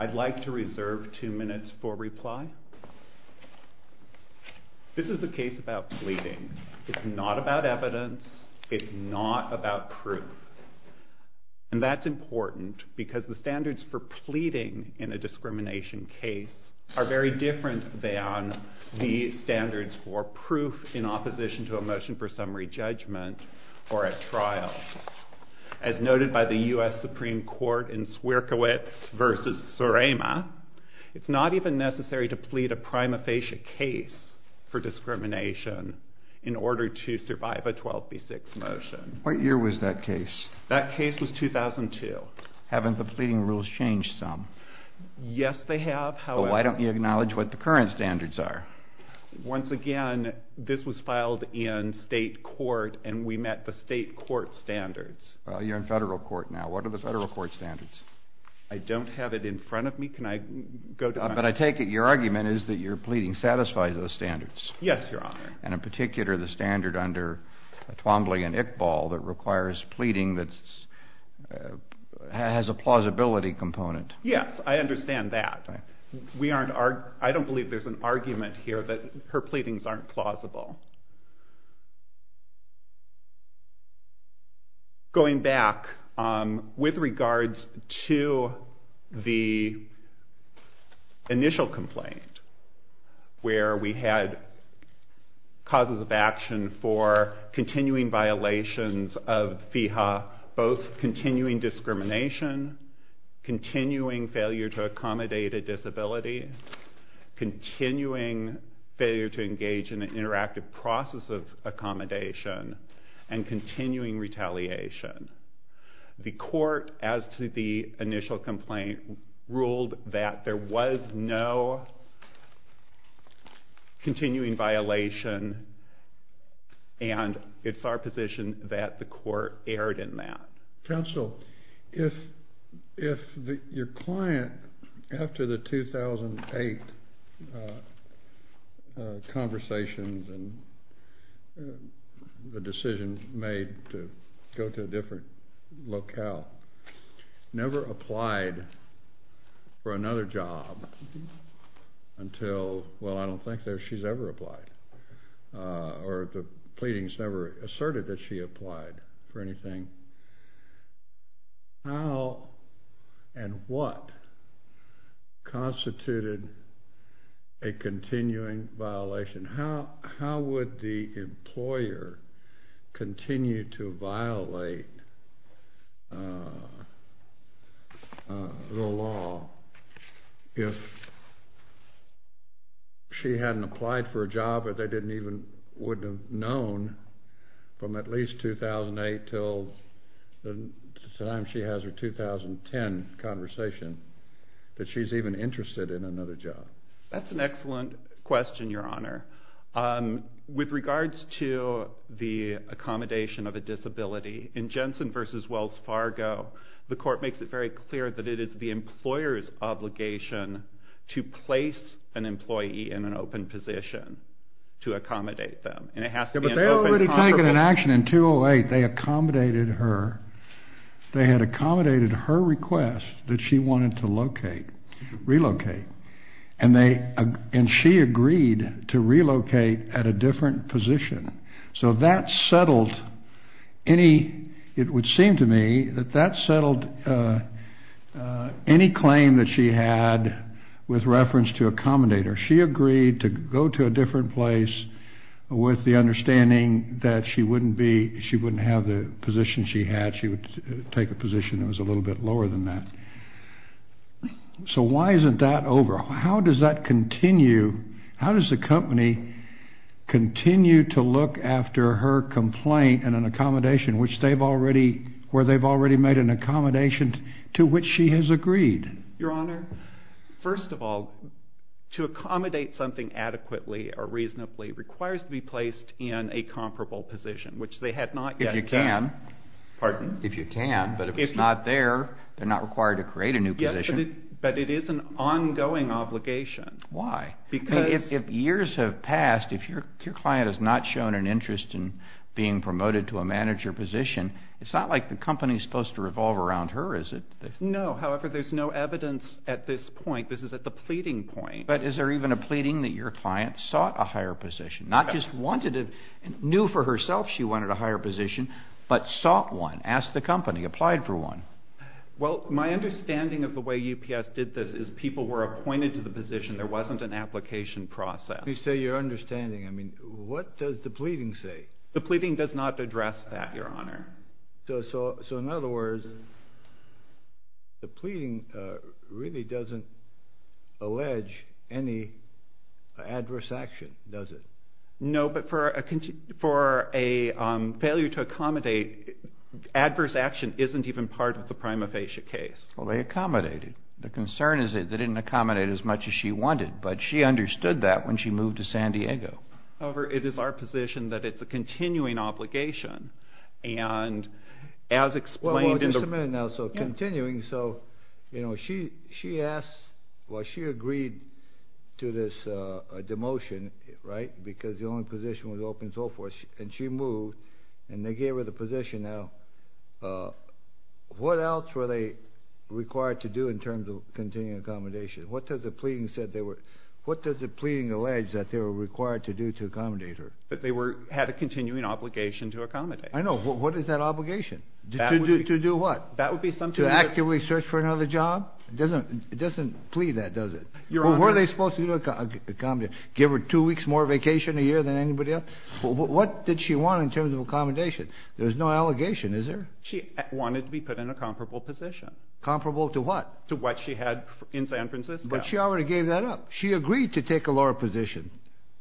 I'd like to reserve two minutes for reply. This is a case about pleading. It's not about evidence. It's not about proof. And that's important because the standards for pleading in a discrimination case are very different than the standards for proof in opposition to a motion for summary judgment or at trial. As noted by the U.S. Supreme Court in Swierkiewicz v. Surema, it's not even necessary to plead a prima facie case for discrimination in order to survive a 12b6 motion. What year was that case? That case was 2002. Haven't the pleading rules changed some? Yes, they have. But why don't you acknowledge what the current standards are? Once again, this was filed in state court and we met the state court standards. You're in federal court now. What are the federal court standards? I don't have it in front of me. But I take it your argument is that your pleading satisfies those standards. Yes, Your Honor. And in particular the standard under Twombly v. Iqbal that requires pleading that has a plausibility component. Yes, I understand that. I don't believe there's an argument here that her pleadings aren't plausible. Going back, with regards to the initial complaint where we had causes of action for continuing violations of FIHA, both continuing discrimination, continuing failure to accommodate a disability, continuing failure to engage in an interactive process of accommodation, and continuing retaliation. The court, as to the initial complaint, ruled that there was no continuing violation and it's our position that the court erred in that. Counsel, if your client, after the 2008 conversations and the decisions made to go to a different locale, never applied for another job until, well I don't think that she's ever applied. Or the pleadings never asserted that she applied for anything. How and what constituted a continuing violation? How would the employer continue to violate the law if she hadn't applied for a job or they didn't even, wouldn't have known from at least 2008 until the time she has her 2010 conversation that she's even interested in another job? That's an excellent question, Your Honor. With regards to the accommodation of a disability, in Jensen v. Wells Fargo, the court makes it very clear that it is the employer's obligation to place an employee in an open position to accommodate them. And it has to be an open conference. But they already taken an action in 2008. They accommodated her. They had accommodated her request that she wanted to locate, relocate. And they, and she agreed to relocate at a different position. So that settled any, it would seem to me that that settled any claim that she had with reference to accommodate her. She agreed to go to a different place with the understanding that she wouldn't be, she wouldn't have the position she had. She would take a position that was a little bit lower than that. So why isn't that over? How does that continue? How does the company continue to look after her complaint and an accommodation which they've already, where they've already made an accommodation to which she has agreed? Your Honor, first of all, to accommodate something adequately or reasonably requires to be placed in a comparable position, which they had not yet done. If you can. Pardon? If you can. But if it's not there, they're not required to create a new position. Yes, but it is an ongoing obligation. Why? Because If years have passed, if your client has not shown an interest in being promoted to a manager position, it's not like the company's supposed to revolve around her, is it? No. However, there's no evidence at this point. This is at the pleading point. But is there even a pleading that your client sought a higher position? Not just wanted it, knew for herself she wanted a higher position, but sought one. Asked the company, applied for one. Well, my understanding of the way UPS did this is people were appointed to the position. There wasn't an application process. You say your understanding. I mean, what does the pleading say? The pleading does not address that, Your Honor. So in other words, the pleading really doesn't allege any adverse action, does it? No, but for a failure to accommodate, adverse action isn't even part of the prima facie case. Well, they accommodated. The concern is they didn't accommodate as much as she wanted, but she understood that when she moved to San Diego. However, it is our position that it's a continuing obligation, and as explained in the... Well, just a minute now. So continuing, so, you know, she asked, well, she agreed to this demotion, right, because the only position was open and so forth, and she moved, and they gave her the position now. What else were they required to do in terms of continuing accommodation? What does the pleading say they were... What does the pleading say they were required to do to accommodate her? That they had a continuing obligation to accommodate. I know. What is that obligation? To do what? That would be something that... To actively search for another job? It doesn't plead that, does it? Your Honor... Well, were they supposed to accommodate? Give her two weeks more vacation a year than anybody else? What did she want in terms of accommodation? There's no allegation, is there? She wanted to be put in a comparable position. Comparable to what? To what she had in San Francisco. But she already gave that up. She agreed to take a lower position.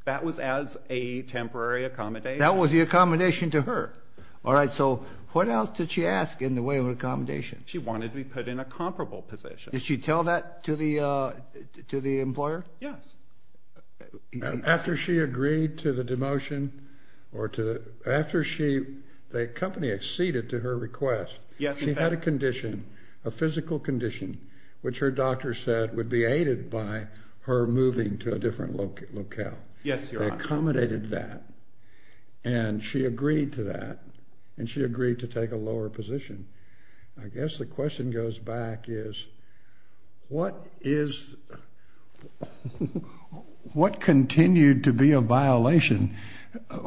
That was as a temporary accommodation? That was the accommodation to her. All right, so what else did she ask in the way of accommodation? She wanted to be put in a comparable position. Did she tell that to the employer? Yes. After she agreed to the demotion, or to the... After she... The company acceded to her request, she had a condition, a physical condition, which her doctor said would be aided by her moving to a different locale. Yes, Your Honor. They accommodated that, and she agreed to that, and she agreed to take a lower position. I guess the question goes back is, what is... What continued to be a violation?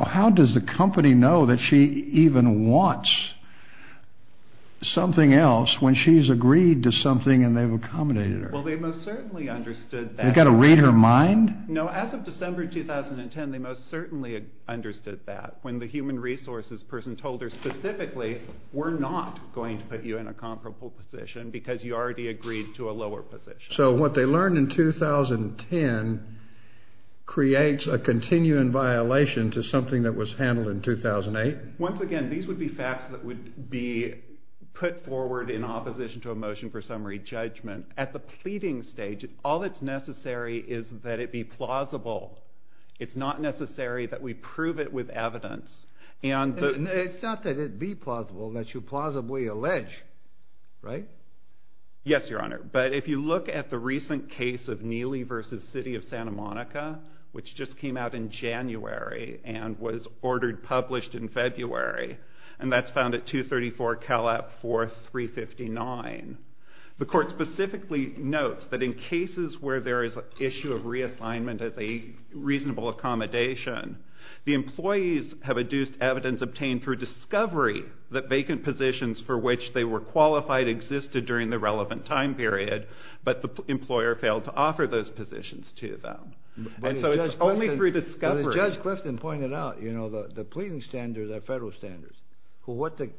How does the Well, they most certainly understood that. They've got to read her mind? No, as of December 2010, they most certainly understood that. When the human resources person told her specifically, we're not going to put you in a comparable position because you already agreed to a lower position. So what they learned in 2010 creates a continuing violation to something that was handled in 2008? Once again, these would be facts that would be put forward in opposition to a motion for summary judgment. At the pleading stage, all that's necessary is that it be plausible. It's not necessary that we prove it with evidence. And the... It's not that it be plausible, that you plausibly allege, right? Yes, Your Honor. But if you look at the recent case of Neely v. City of Santa Monica, which just came out in January and was ordered, 359. The court specifically notes that in cases where there is an issue of reassignment as a reasonable accommodation, the employees have adduced evidence obtained through discovery that vacant positions for which they were qualified existed during the relevant time period, but the employer failed to offer those positions to them. And so it's only through discovery... Judge Clifton pointed out, you know, the pleading standards are federal standards. Well, what the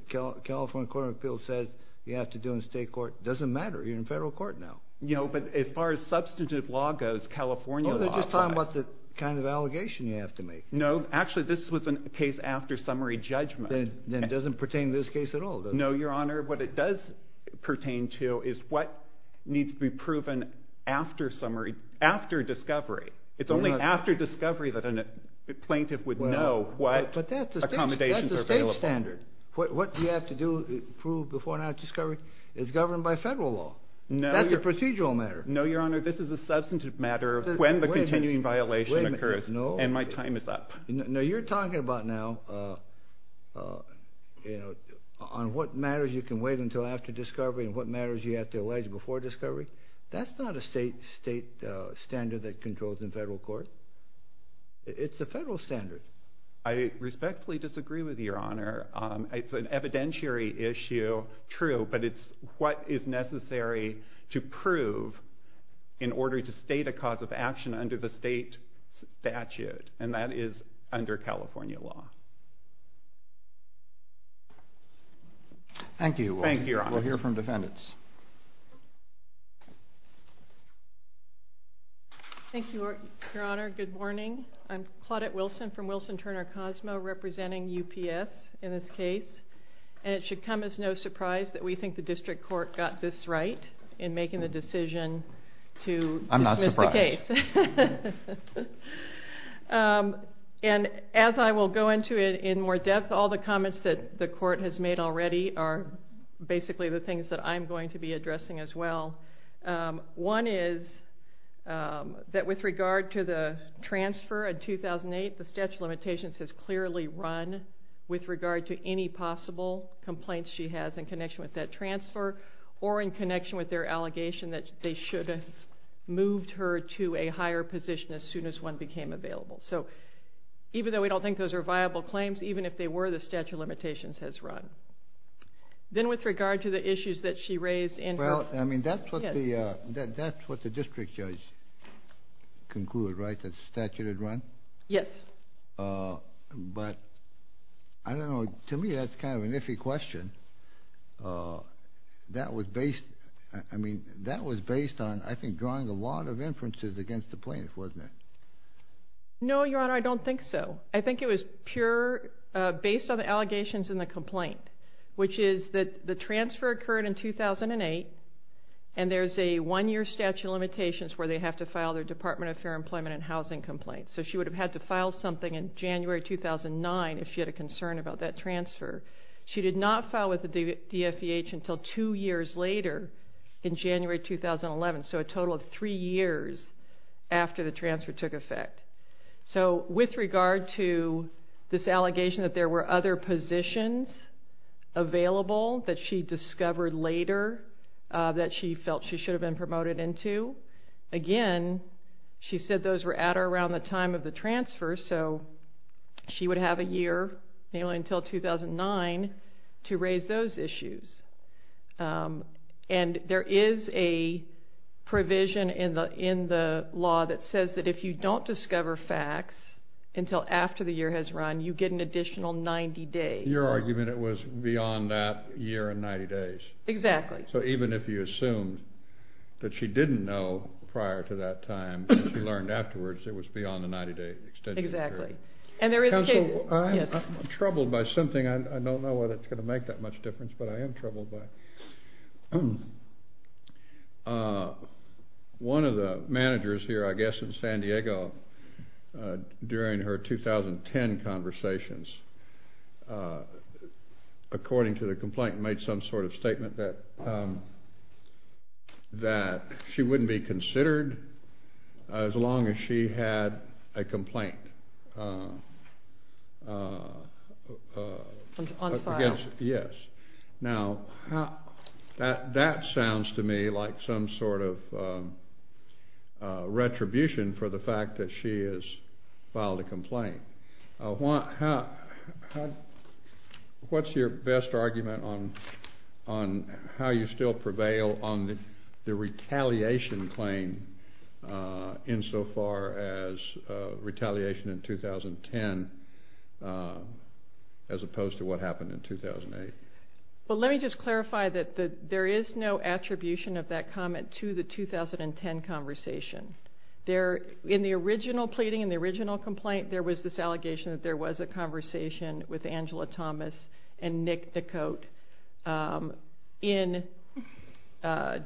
California Court of Appeals says you have to do in state court doesn't matter. You're in federal court now. You know, but as far as substantive law goes, California law... Oh, they're just talking about the kind of allegation you have to make. No, actually, this was a case after summary judgment. Then it doesn't pertain to this case at all, does it? No, Your Honor. What it does pertain to is what needs to be proven after discovery. It's only after discovery that a plaintiff would know what accommodations are available. But that's a state standard. What do you have to do to prove before and after discovery? It's governed by federal law. That's a procedural matter. No, Your Honor, this is a substantive matter of when the continuing violation occurs, and my time is up. No, you're talking about now, you know, on what matters you can wait until after discovery and what matters you have to allege before discovery. That's not a state standard that controls the federal court. It's a federal standard. I respectfully disagree with you, Your Honor. It's an evidentiary issue, true, but it's what is necessary to prove in order to state a cause of action under the state statute, and that is under California law. Thank you. Thank you, Your Honor. We'll hear from defendants. Thank you, Your Honor. Good morning. I'm Claudette Wilson from Wilson Turner Cosmo representing UPS in this case, and it should come as no surprise that we think the district court got this right in making the in more depth. All the comments that the court has made already are basically the things that I'm going to be addressing as well. One is that with regard to the transfer in 2008, the statute of limitations has clearly run with regard to any possible complaints she has in connection with that transfer or in connection with their allegation that they should have moved her to a higher position as soon as one became available. So even though we don't think those are viable claims, even if they were, the statute of limitations has run. Then with regard to the issues that she raised in her... Well, I mean, that's what the district judge concluded, right, that statute had run? Yes. But I don't know. To me, that's kind of an iffy question. That was based... I mean, that was based on, I think, drawing a lot of inferences against the plaintiff, wasn't it? No, Your Honor, I don't think so. I think it was pure, based on the allegations in the complaint, which is that the transfer occurred in 2008, and there's a one-year statute of limitations where they have to file their Department of Fair Employment and Housing complaint. So she would have had to file something in January 2009 if she had a concern about that transfer. She did not file with the DFEH until two years later in January 2011, so a total of three years after the transfer took effect. So with regard to this allegation that there were other positions available that she discovered later that she felt she should have been promoted into, again, she said those were at or around the time of the transfer, so she would have a year, namely until 2009, to raise those issues. And there is a provision in the law that says that if you don't discover facts until after the year has run, you get an additional 90 days. Your argument, it was beyond that year and 90 days. Exactly. So even if you assumed that she didn't know prior to that time, she learned afterwards it was beyond the 90-day extension period. Exactly. And there is... Counsel, I'm troubled by something. I don't know whether it's going to make that much difference, but I am troubled by it. One of the managers here, I guess in San Diego, during her 2010 conversations, according to the complaint, made some sort of statement that she wouldn't be considered as long as she had a complaint. Unfiled. Yes. Now, that sounds to me like some sort of retribution for the fact that she has filed a complaint. What's your best argument on how you still claim insofar as retaliation in 2010 as opposed to what happened in 2008? Well, let me just clarify that there is no attribution of that comment to the 2010 conversation. In the original pleading, in the original complaint, there was this allegation that there was a conversation with Angela Thomas and Nick DeCote in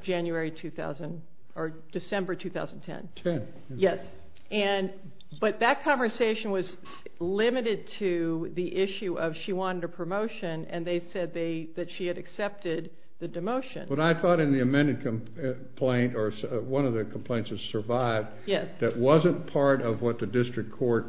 January 2000, or January 2010. And there was no attribution for December 2010. Yes. But that conversation was limited to the issue of she wanted a promotion, and they said that she had accepted the demotion. But I thought in the amended complaint, or one of the complaints that survived, that wasn't part of what the district court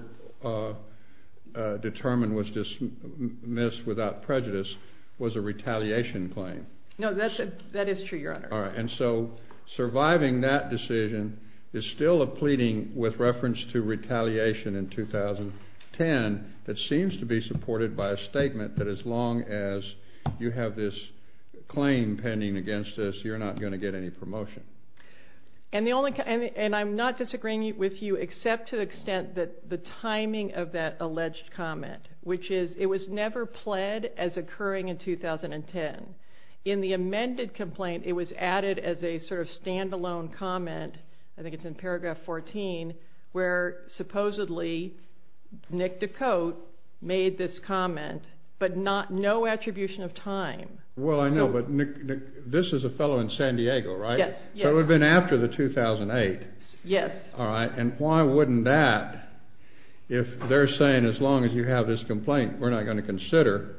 determined was dismissed without prejudice, was a retaliation claim. No, that is true, Your Honor. And so surviving that decision is still a pleading with reference to retaliation in 2010 that seems to be supported by a statement that as long as you have this claim pending against this, you're not going to get any promotion. And I'm not disagreeing with you except to the extent that the timing of that alleged comment, which is it was never pled as occurring in 2010. In the amended complaint, it was added as a sort of stand-alone comment, I think it's in paragraph 14, where supposedly Nick DeCote made this comment, but no attribution of time. Well, I know, but this is a fellow in San Diego, right? Yes. So it would have been after the 2008. Yes. All right. And why wouldn't that, if they're saying as long as you have this complaint, we're not going to consider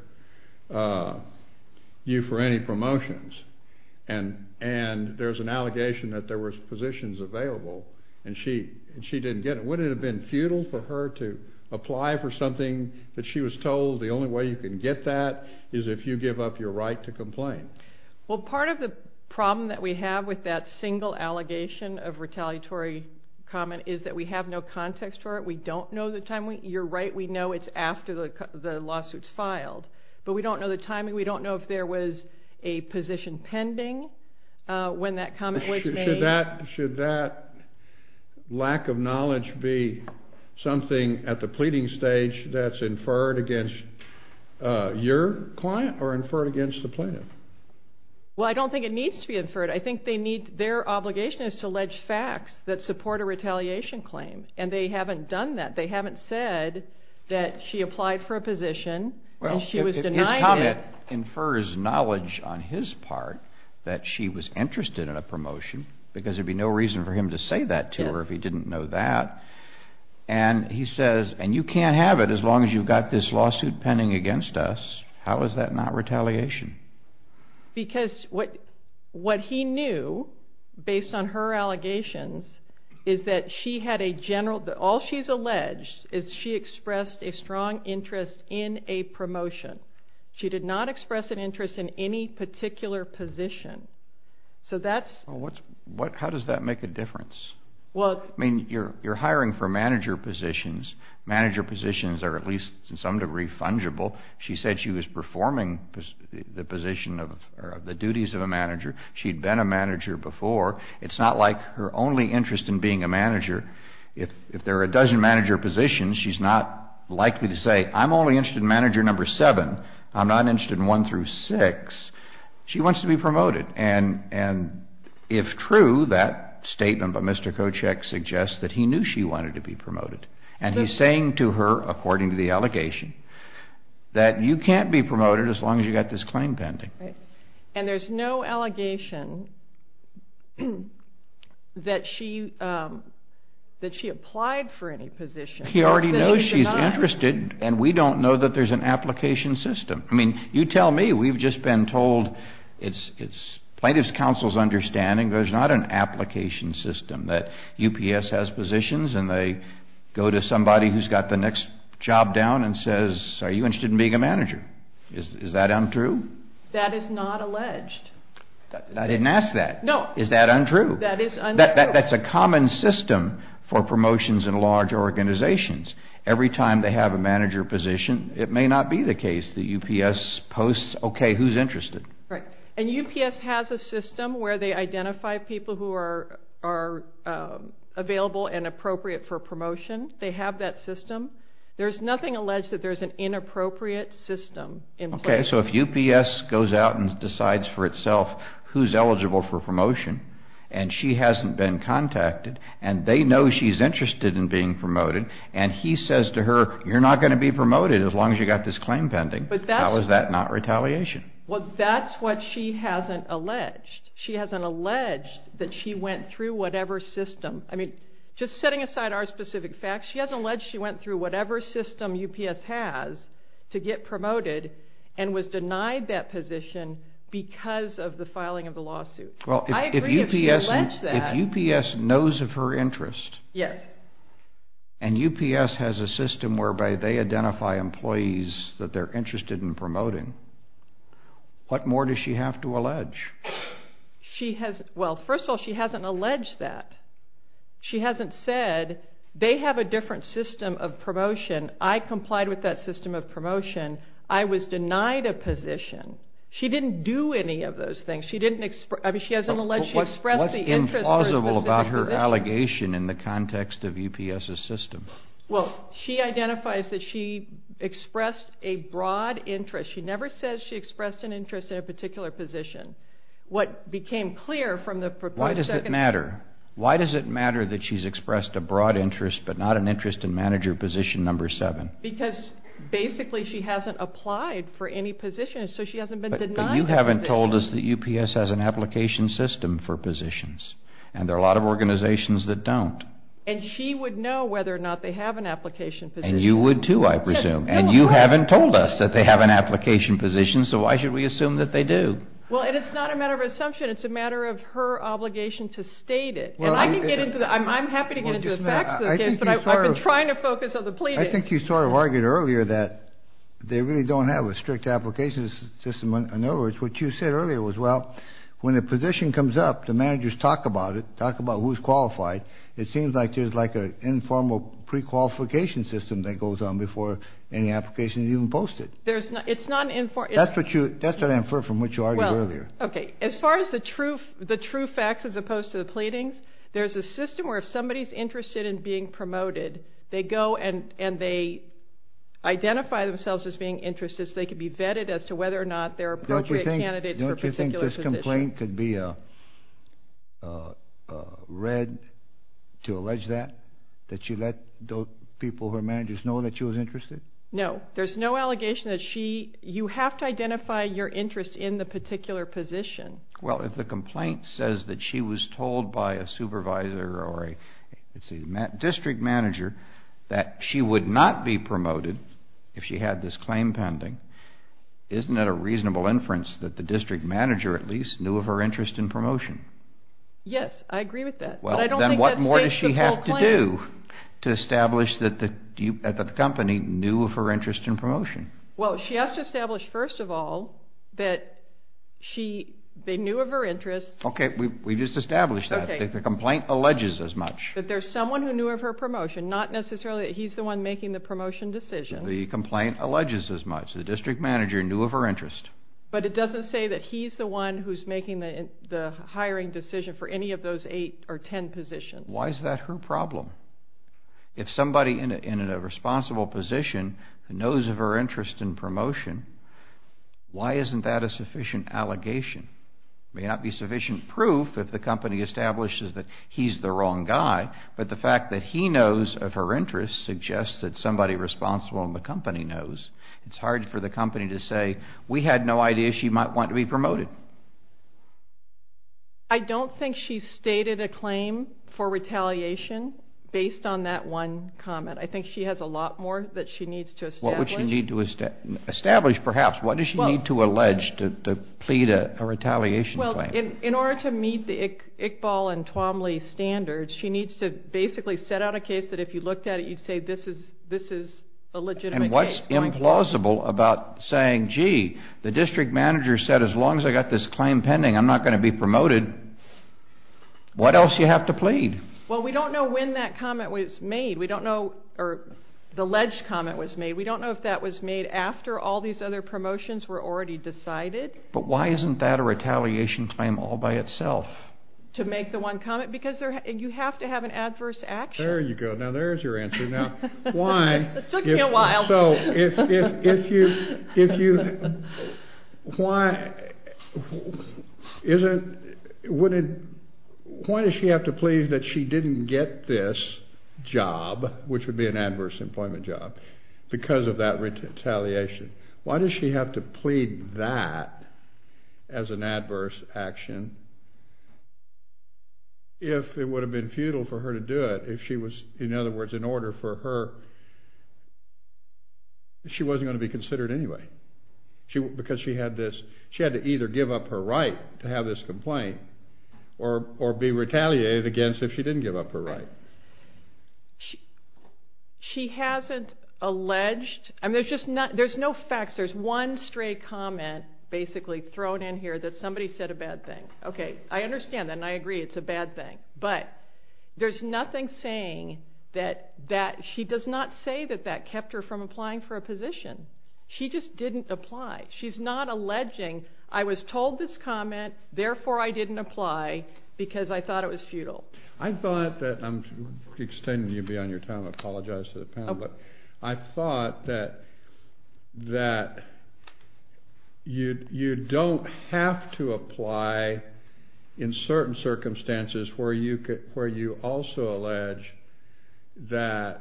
you for any promotions? And there's an allegation that there were positions available and she didn't get it. Wouldn't it have been futile for her to apply for something that she was told the only way you can get that is if you give up your right to complain? Well, part of the problem that we have with that single allegation of retaliatory comment is that we have no context for it. We don't know the time. You're right, we know it's after the lawsuit's filed, but we don't know the timing. We don't know if there was a position pending when that comment was made. Should that lack of knowledge be something at the pleading stage that's inferred against your client or inferred against the plaintiff? Well, I don't think it needs to be inferred. I think they need, their obligation is to allege facts that support a retaliation claim and they haven't done that. They haven't said that she applied for a position and she was denied it. Well, if his comment infers knowledge on his part that she was interested in a promotion because there would be no reason for him to say that to her if he didn't know that and he says, and you can't have it as long as you've got this lawsuit pending against us, how is that not retaliation? Because what he knew based on her allegations is that she had a general, all she's alleged is she expressed a strong interest in a promotion. She did not express an interest in any particular position. So that's- How does that make a difference? I mean, you're hiring for manager positions. Manager positions are at least to some degree fungible. She said she was performing the position of, or the duties of a manager. She'd been a manager before. It's not like her only interest in being a manager, if there are a dozen manager positions, she's not likely to say, I'm only interested in manager number seven. I'm not interested in one through six. She wants to be promoted. And if true, that statement by Mr. Kochek suggests that he knew she wanted to be promoted. And he's saying to her, according to the allegation, that you can't be promoted as long as you've got this claim pending. And there's no allegation that she applied for any position. He already knows she's interested, and we don't know that there's an application system. I mean, you tell me, we've just been told, it's plaintiff's counsel's understanding, there's not an application system that UPS has positions and they go to somebody who's got the next job down and says, are you interested in being a manager? Is that untrue? That is not alleged. I didn't ask that. Is that untrue? That is untrue. That's a common system for promotions in large organizations. Every time they have a manager position, it may not be the case that UPS posts, OK, who's interested? Right. And UPS has a system where they identify people who are available and appropriate for promotion. They have that system. There's nothing alleged that there's an inappropriate system in place. OK, so if UPS goes out and decides for itself who's eligible for promotion and she hasn't been contacted and they know she's interested in being promoted and he says to her, you're not going to be promoted as long as you've got this claim pending. How is that not retaliation? Well, that's what she hasn't alleged. She hasn't alleged that she went through whatever system. I mean, just setting aside our specific facts, she hasn't alleged she went through whatever system UPS has to get promoted and was denied that position because of the filing of the lawsuit. Well, if UPS knows of her interest and UPS has a system whereby they identify employees that they're interested in promoting, what more does she have to allege? She has, well, first of all, she hasn't alleged that. She hasn't said they have a different system of promotion. I complied with that system of promotion. I was denied a position. She didn't do any of those things. She didn't express, I mean, she hasn't alleged she expressed the interest through a specific position. What's implausible about her allegation in the context of UPS's system? Well, she identifies that she expressed a broad interest. She never says she expressed an interest in a particular position. What became clear from the proposed second... Why does it matter? Why does it matter that she's expressed a broad interest but not an interest in manager position number seven? Because basically she hasn't applied for any position, so she hasn't been denied a position. But you haven't told us that UPS has an application system for positions, and there are a lot of organizations that don't. And she would know whether or not they have an application position. And you would too, I presume. Yes, no, of course. And you haven't told us that they have an application position, so why should we assume that they do? Well, and it's not a matter of assumption. It's a matter of her obligation to state it. And I can get into the... I'm happy to get into the facts of the case, but I've been trying to focus on the pleadings. I think you sort of argued earlier that they really don't have a strict application system. In other words, what you said earlier was, well, when a position comes up, the managers talk about it, talk about who's qualified. It seems like there's like an informal pre-qualification system that goes on before any application is even posted. It's not an informal... That's what you... That's what I inferred from what you argued earlier. Okay. As far as the true facts as opposed to the pleadings, there's a system where if somebody's interested in being promoted, they go and they identify themselves as being interested so they can be vetted as to whether or not they're appropriate candidates for a particular position. Don't you think this complaint could be read to allege that, that you let people, her managers, know that she was interested? No. There's no allegation that she... You have to identify your interest in the particular position. Well, if the complaint says that she was told by a supervisor or a, let's see, district manager that she would not be promoted if she had this claim pending, isn't that a reasonable inference that the district manager at least knew of her interest in promotion? Yes, I agree with that. Well, then what more does she have to do to establish that the company knew of her interest in promotion? Well, she has to establish, first of all, that she, they knew of her interest... Okay, we just established that. The complaint alleges as much. That there's someone who knew of her promotion, not necessarily that he's the one making the promotion decision. The complaint alleges as much. The district manager knew of her interest. But it doesn't say that he's the one who's making the hiring decision for any of those eight or ten positions. Why is that her problem? If somebody in a responsible position knows of her interest in promotion, why isn't that a sufficient allegation? It may not be sufficient proof if the company establishes that he's the wrong guy, but the fact that he knows of her interest suggests that somebody responsible in the company knows. It's hard for the company to say, we had no idea she might want to be promoted. I don't think she's stated a claim for retaliation based on that one comment. I think she has a lot more that she needs to establish. What would she need to establish, perhaps? What does she need to allege to plead a retaliation claim? In order to meet the Iqbal and Twomley standards, she needs to basically set out a case that if you looked at it, you'd say this is a legitimate case. And what's implausible about saying, gee, the district manager said as long as I've got this claim pending, I'm not going to be promoted. What else do you have to plead? We don't know when that comment was made. We don't know if the alleged comment was made. We don't know if that was made after all these other promotions were already decided. But why isn't that a retaliation claim all by itself? To make the one comment? Because you have to have an adverse action. There you go. Now there's your answer. Why does she have to plead that she didn't get this job, which would be an adverse employment job, because of that retaliation? Why does she have to plead that as an adverse action if it would have been futile for her to do it, if she was, in other words, in order for her, she wasn't going to be considered anyway? Because she had to either give up her right to have this complaint or be retaliated against if she didn't give up her right. She hasn't alleged. There's no facts. There's one stray comment basically thrown in here that somebody said a bad thing. Okay, I understand that and I agree it's a bad thing. But there's nothing saying that she does not say that that kept her from applying for a position. She just didn't apply. She's not alleging, I was told this comment, therefore I didn't apply because I thought it was futile. I thought that you don't have to apply in certain circumstances where you also apply and you also allege that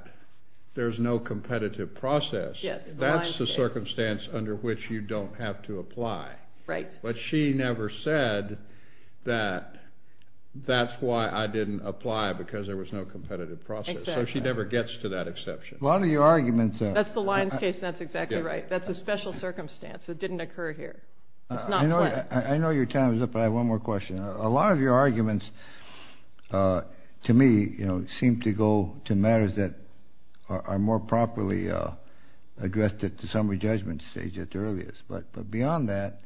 there's no competitive process. That's the circumstance under which you don't have to apply. Right. But she never said that that's why I didn't apply because there was no competitive process. So she never gets to that exception. A lot of your arguments... That's the Lyons case and that's exactly right. That's a special circumstance. It didn't occur here. It's not planned. I know your time is up, but I have one more question. A lot of your arguments to me seem to go to matters that are more properly addressed at the summary judgment stage at the earliest. But beyond that,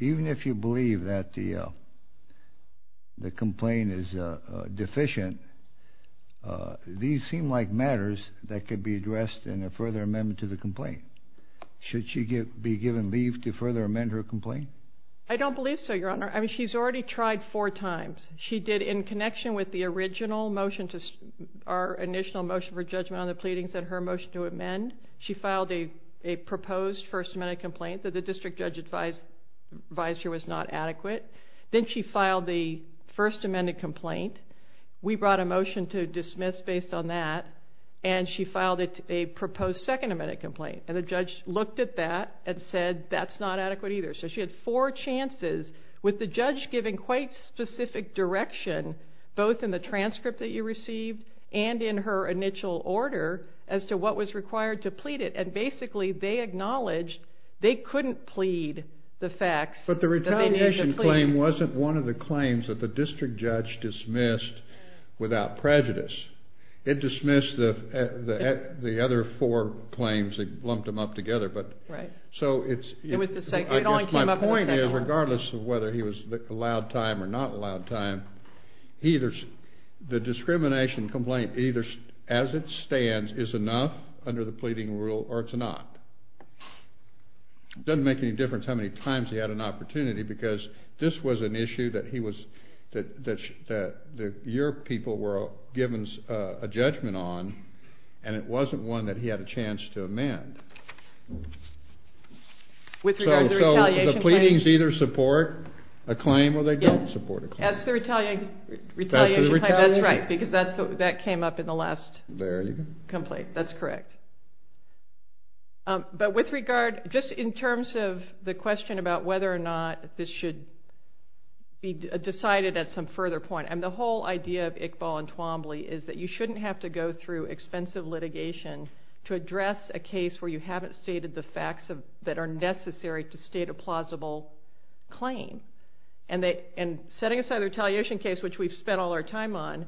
even if you believe that the complaint is deficient, these seem like matters that could be addressed in a further amendment to the complaint. Should she be given leave to further amend her complaint? I don't believe so, Your Honor. I mean, she's already tried four times. She did in connection with the original motion, our initial motion for judgment on the pleadings and her motion to amend. She filed a proposed First Amendment complaint that the district judge advisor was not adequate. Then she filed the First Amendment complaint. We brought a motion to dismiss based on that, and she filed a proposed Second Amendment complaint. And the judge looked at that and said, that's not adequate either. So she had four chances with the judge giving quite specific direction, both in the transcript that you received and in her initial order as to what was required to plead it. And basically, they acknowledged they couldn't plead the facts that they needed to plead. But the retaliation claim wasn't one of the claims that the district judge dismissed without prejudice. It dismissed the other four claims that lumped them up together. Right. So my point is, regardless of whether he was allowed time or not allowed time, the discrimination complaint, as it stands, is enough under the pleading rule or it's not. It doesn't make any difference how many times he had an opportunity, because this was an issue that your people were given a judgment on, and it wasn't one that he had a chance to amend. With regard to the retaliation claim? So the pleadings either support a claim or they don't support a claim. As to the retaliation claim, that's right, because that came up in the last complaint. That's correct. But with regard, just in terms of the question about whether or not this should be decided at some further point, and the whole idea of Iqbal and Twombly is that you shouldn't have to go through expensive litigation to address a case where you haven't stated the facts that are necessary to state a plausible claim. And setting aside the retaliation case, which we've spent all our time on,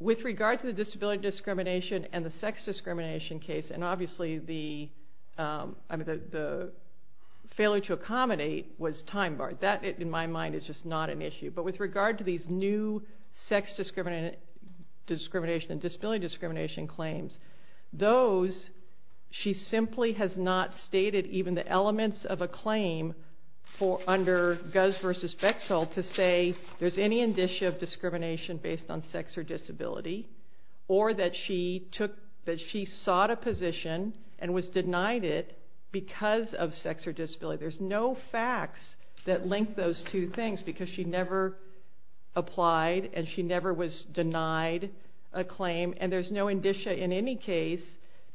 with regard to the disability discrimination and the sex discrimination case, and obviously the failure to accommodate was time-barred. That, in my mind, is just not an issue. But with regard to these new sex discrimination and disability discrimination claims, those she simply has not stated even the elements of a claim under Guz v. Bechtel to say there's any indicia of discrimination based on sex or disability, or that she sought a position and was denied it because of sex or disability. There's no facts that link those two things because she never applied and she never was denied a claim, and there's no indicia in any case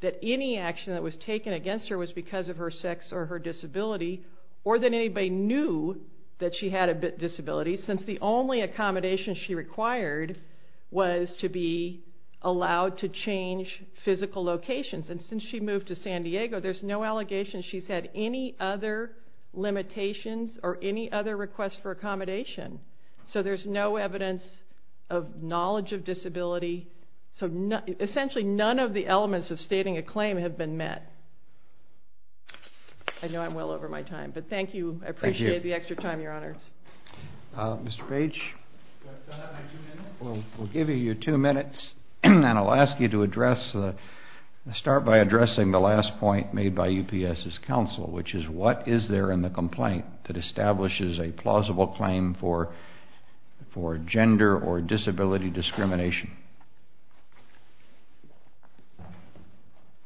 that any action that was taken against her was because of her sex or her disability, or that anybody knew that she had a disability, since the only accommodation she required was to be allowed to change physical locations. And since she moved to San Diego, there's no allegation she's had any other limitations or any other request for accommodation. So there's no evidence of knowledge of disability. So essentially none of the elements of stating a claim have been met. I know I'm well over my time, but thank you. I appreciate the extra time, your honors. Mr. Page, we'll give you your two minutes, and I'll ask you to start by addressing the last point made by UPS's counsel, which is what is there in the complaint that establishes a plausible claim for gender or disability discrimination?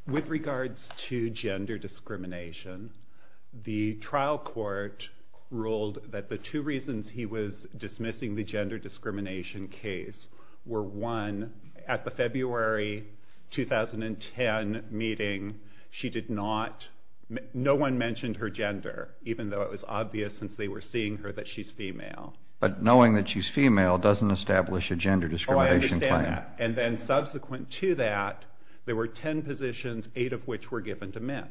With regards to gender discrimination, the trial court ruled that the two reasons he was dismissing the gender discrimination case were, one, at the February 2010 meeting, she did not, no one mentioned her gender, even though it was obvious since they were seeing her that she's female. But knowing that she's female doesn't establish a gender discrimination claim. And then subsequent to that, there were ten positions, eight of which were given to men.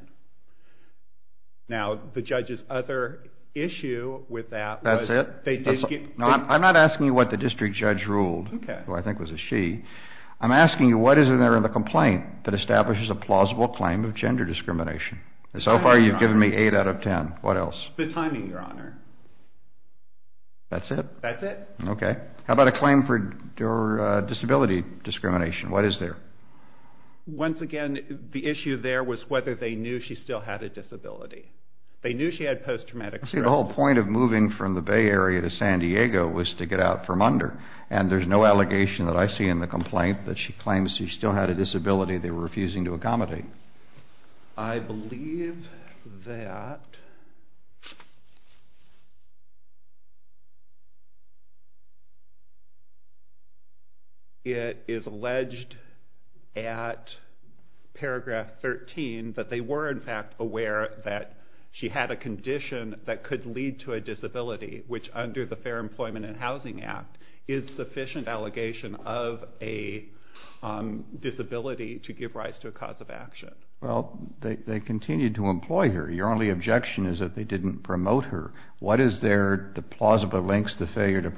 Now, the judge's other issue with that was... That's it? No, I'm not asking you what the district judge ruled, who I think was a she. I'm asking you what is in there in the complaint that establishes a plausible claim of gender discrimination? And so far you've given me eight out of ten. What else? The timing, your honor. That's it? That's it? So, the claim for gender discrimination, what is there? Once again, the issue there was whether they knew she still had a disability. They knew she had post-traumatic stress disorder. See, the whole point of moving from the Bay Area to San Diego was to get out from under. And there's no allegation that I see in the complaint that she claims she still had a disability they were refusing to accommodate. I believe that... It is alleged at paragraph 13 that they were in fact aware that she had a condition that could lead to a disability, which under the Fair Employment and Housing Act is sufficient allegation of a disability to give rise to a cause of action. Well, they continued to employ her. Your only objection is that they didn't promote her. What is there that plausibly allege a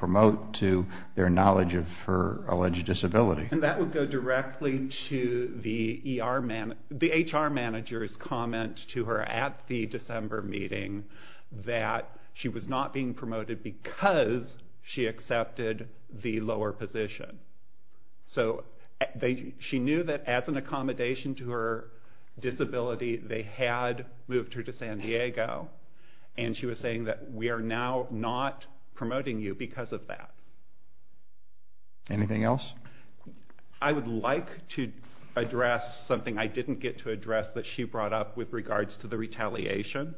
disability? And that would go directly to the HR manager's comment to her at the December meeting that she was not being promoted because she accepted the lower position. So, she knew that as an accommodation to her disability, they had moved her to San Diego. And she was saying that we are now not promoting you because of that. Anything else? I would like to address something I didn't get to address that she brought up with regards to the retaliation.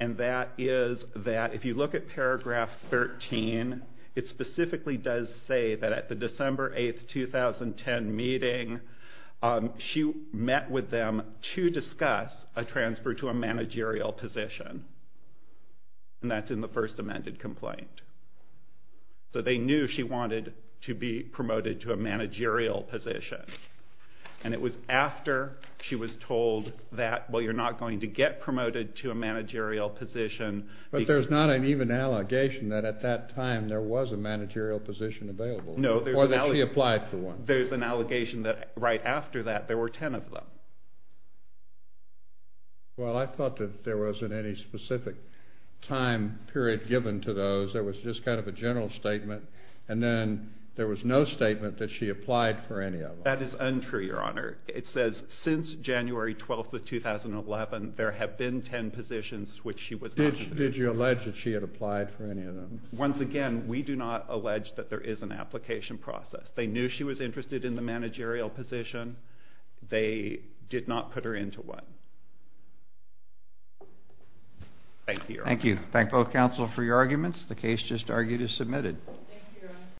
And that is that if you look at paragraph 13, it specifically does say that at the December 8, 2010 meeting, she met with them to discuss a transfer to a managerial position. And that's in the first amended complaint. So, they knew she wanted to be promoted to a managerial position. And it was after she was told that, well, you're not going to get promoted to a managerial position. But there's not an even allegation that at that time there was a managerial position available or that she applied for one. There's an allegation that right after that, there were 10 of them. Well, I thought that there wasn't any specific time period given to those. There was just kind of a general statement. And then there was no statement that she applied for any of them. That is untrue, Your Honor. It says since January 12, 2011, there have been 10 positions which she was not considered. Did you allege that she had applied for any of them? Once again, we do not allege that there is an application process. They knew she was interested in the managerial position. They did not put her into one. Thank you, Your Honor. Thank you. Thank both counsel for your arguments. The case just argued is submitted.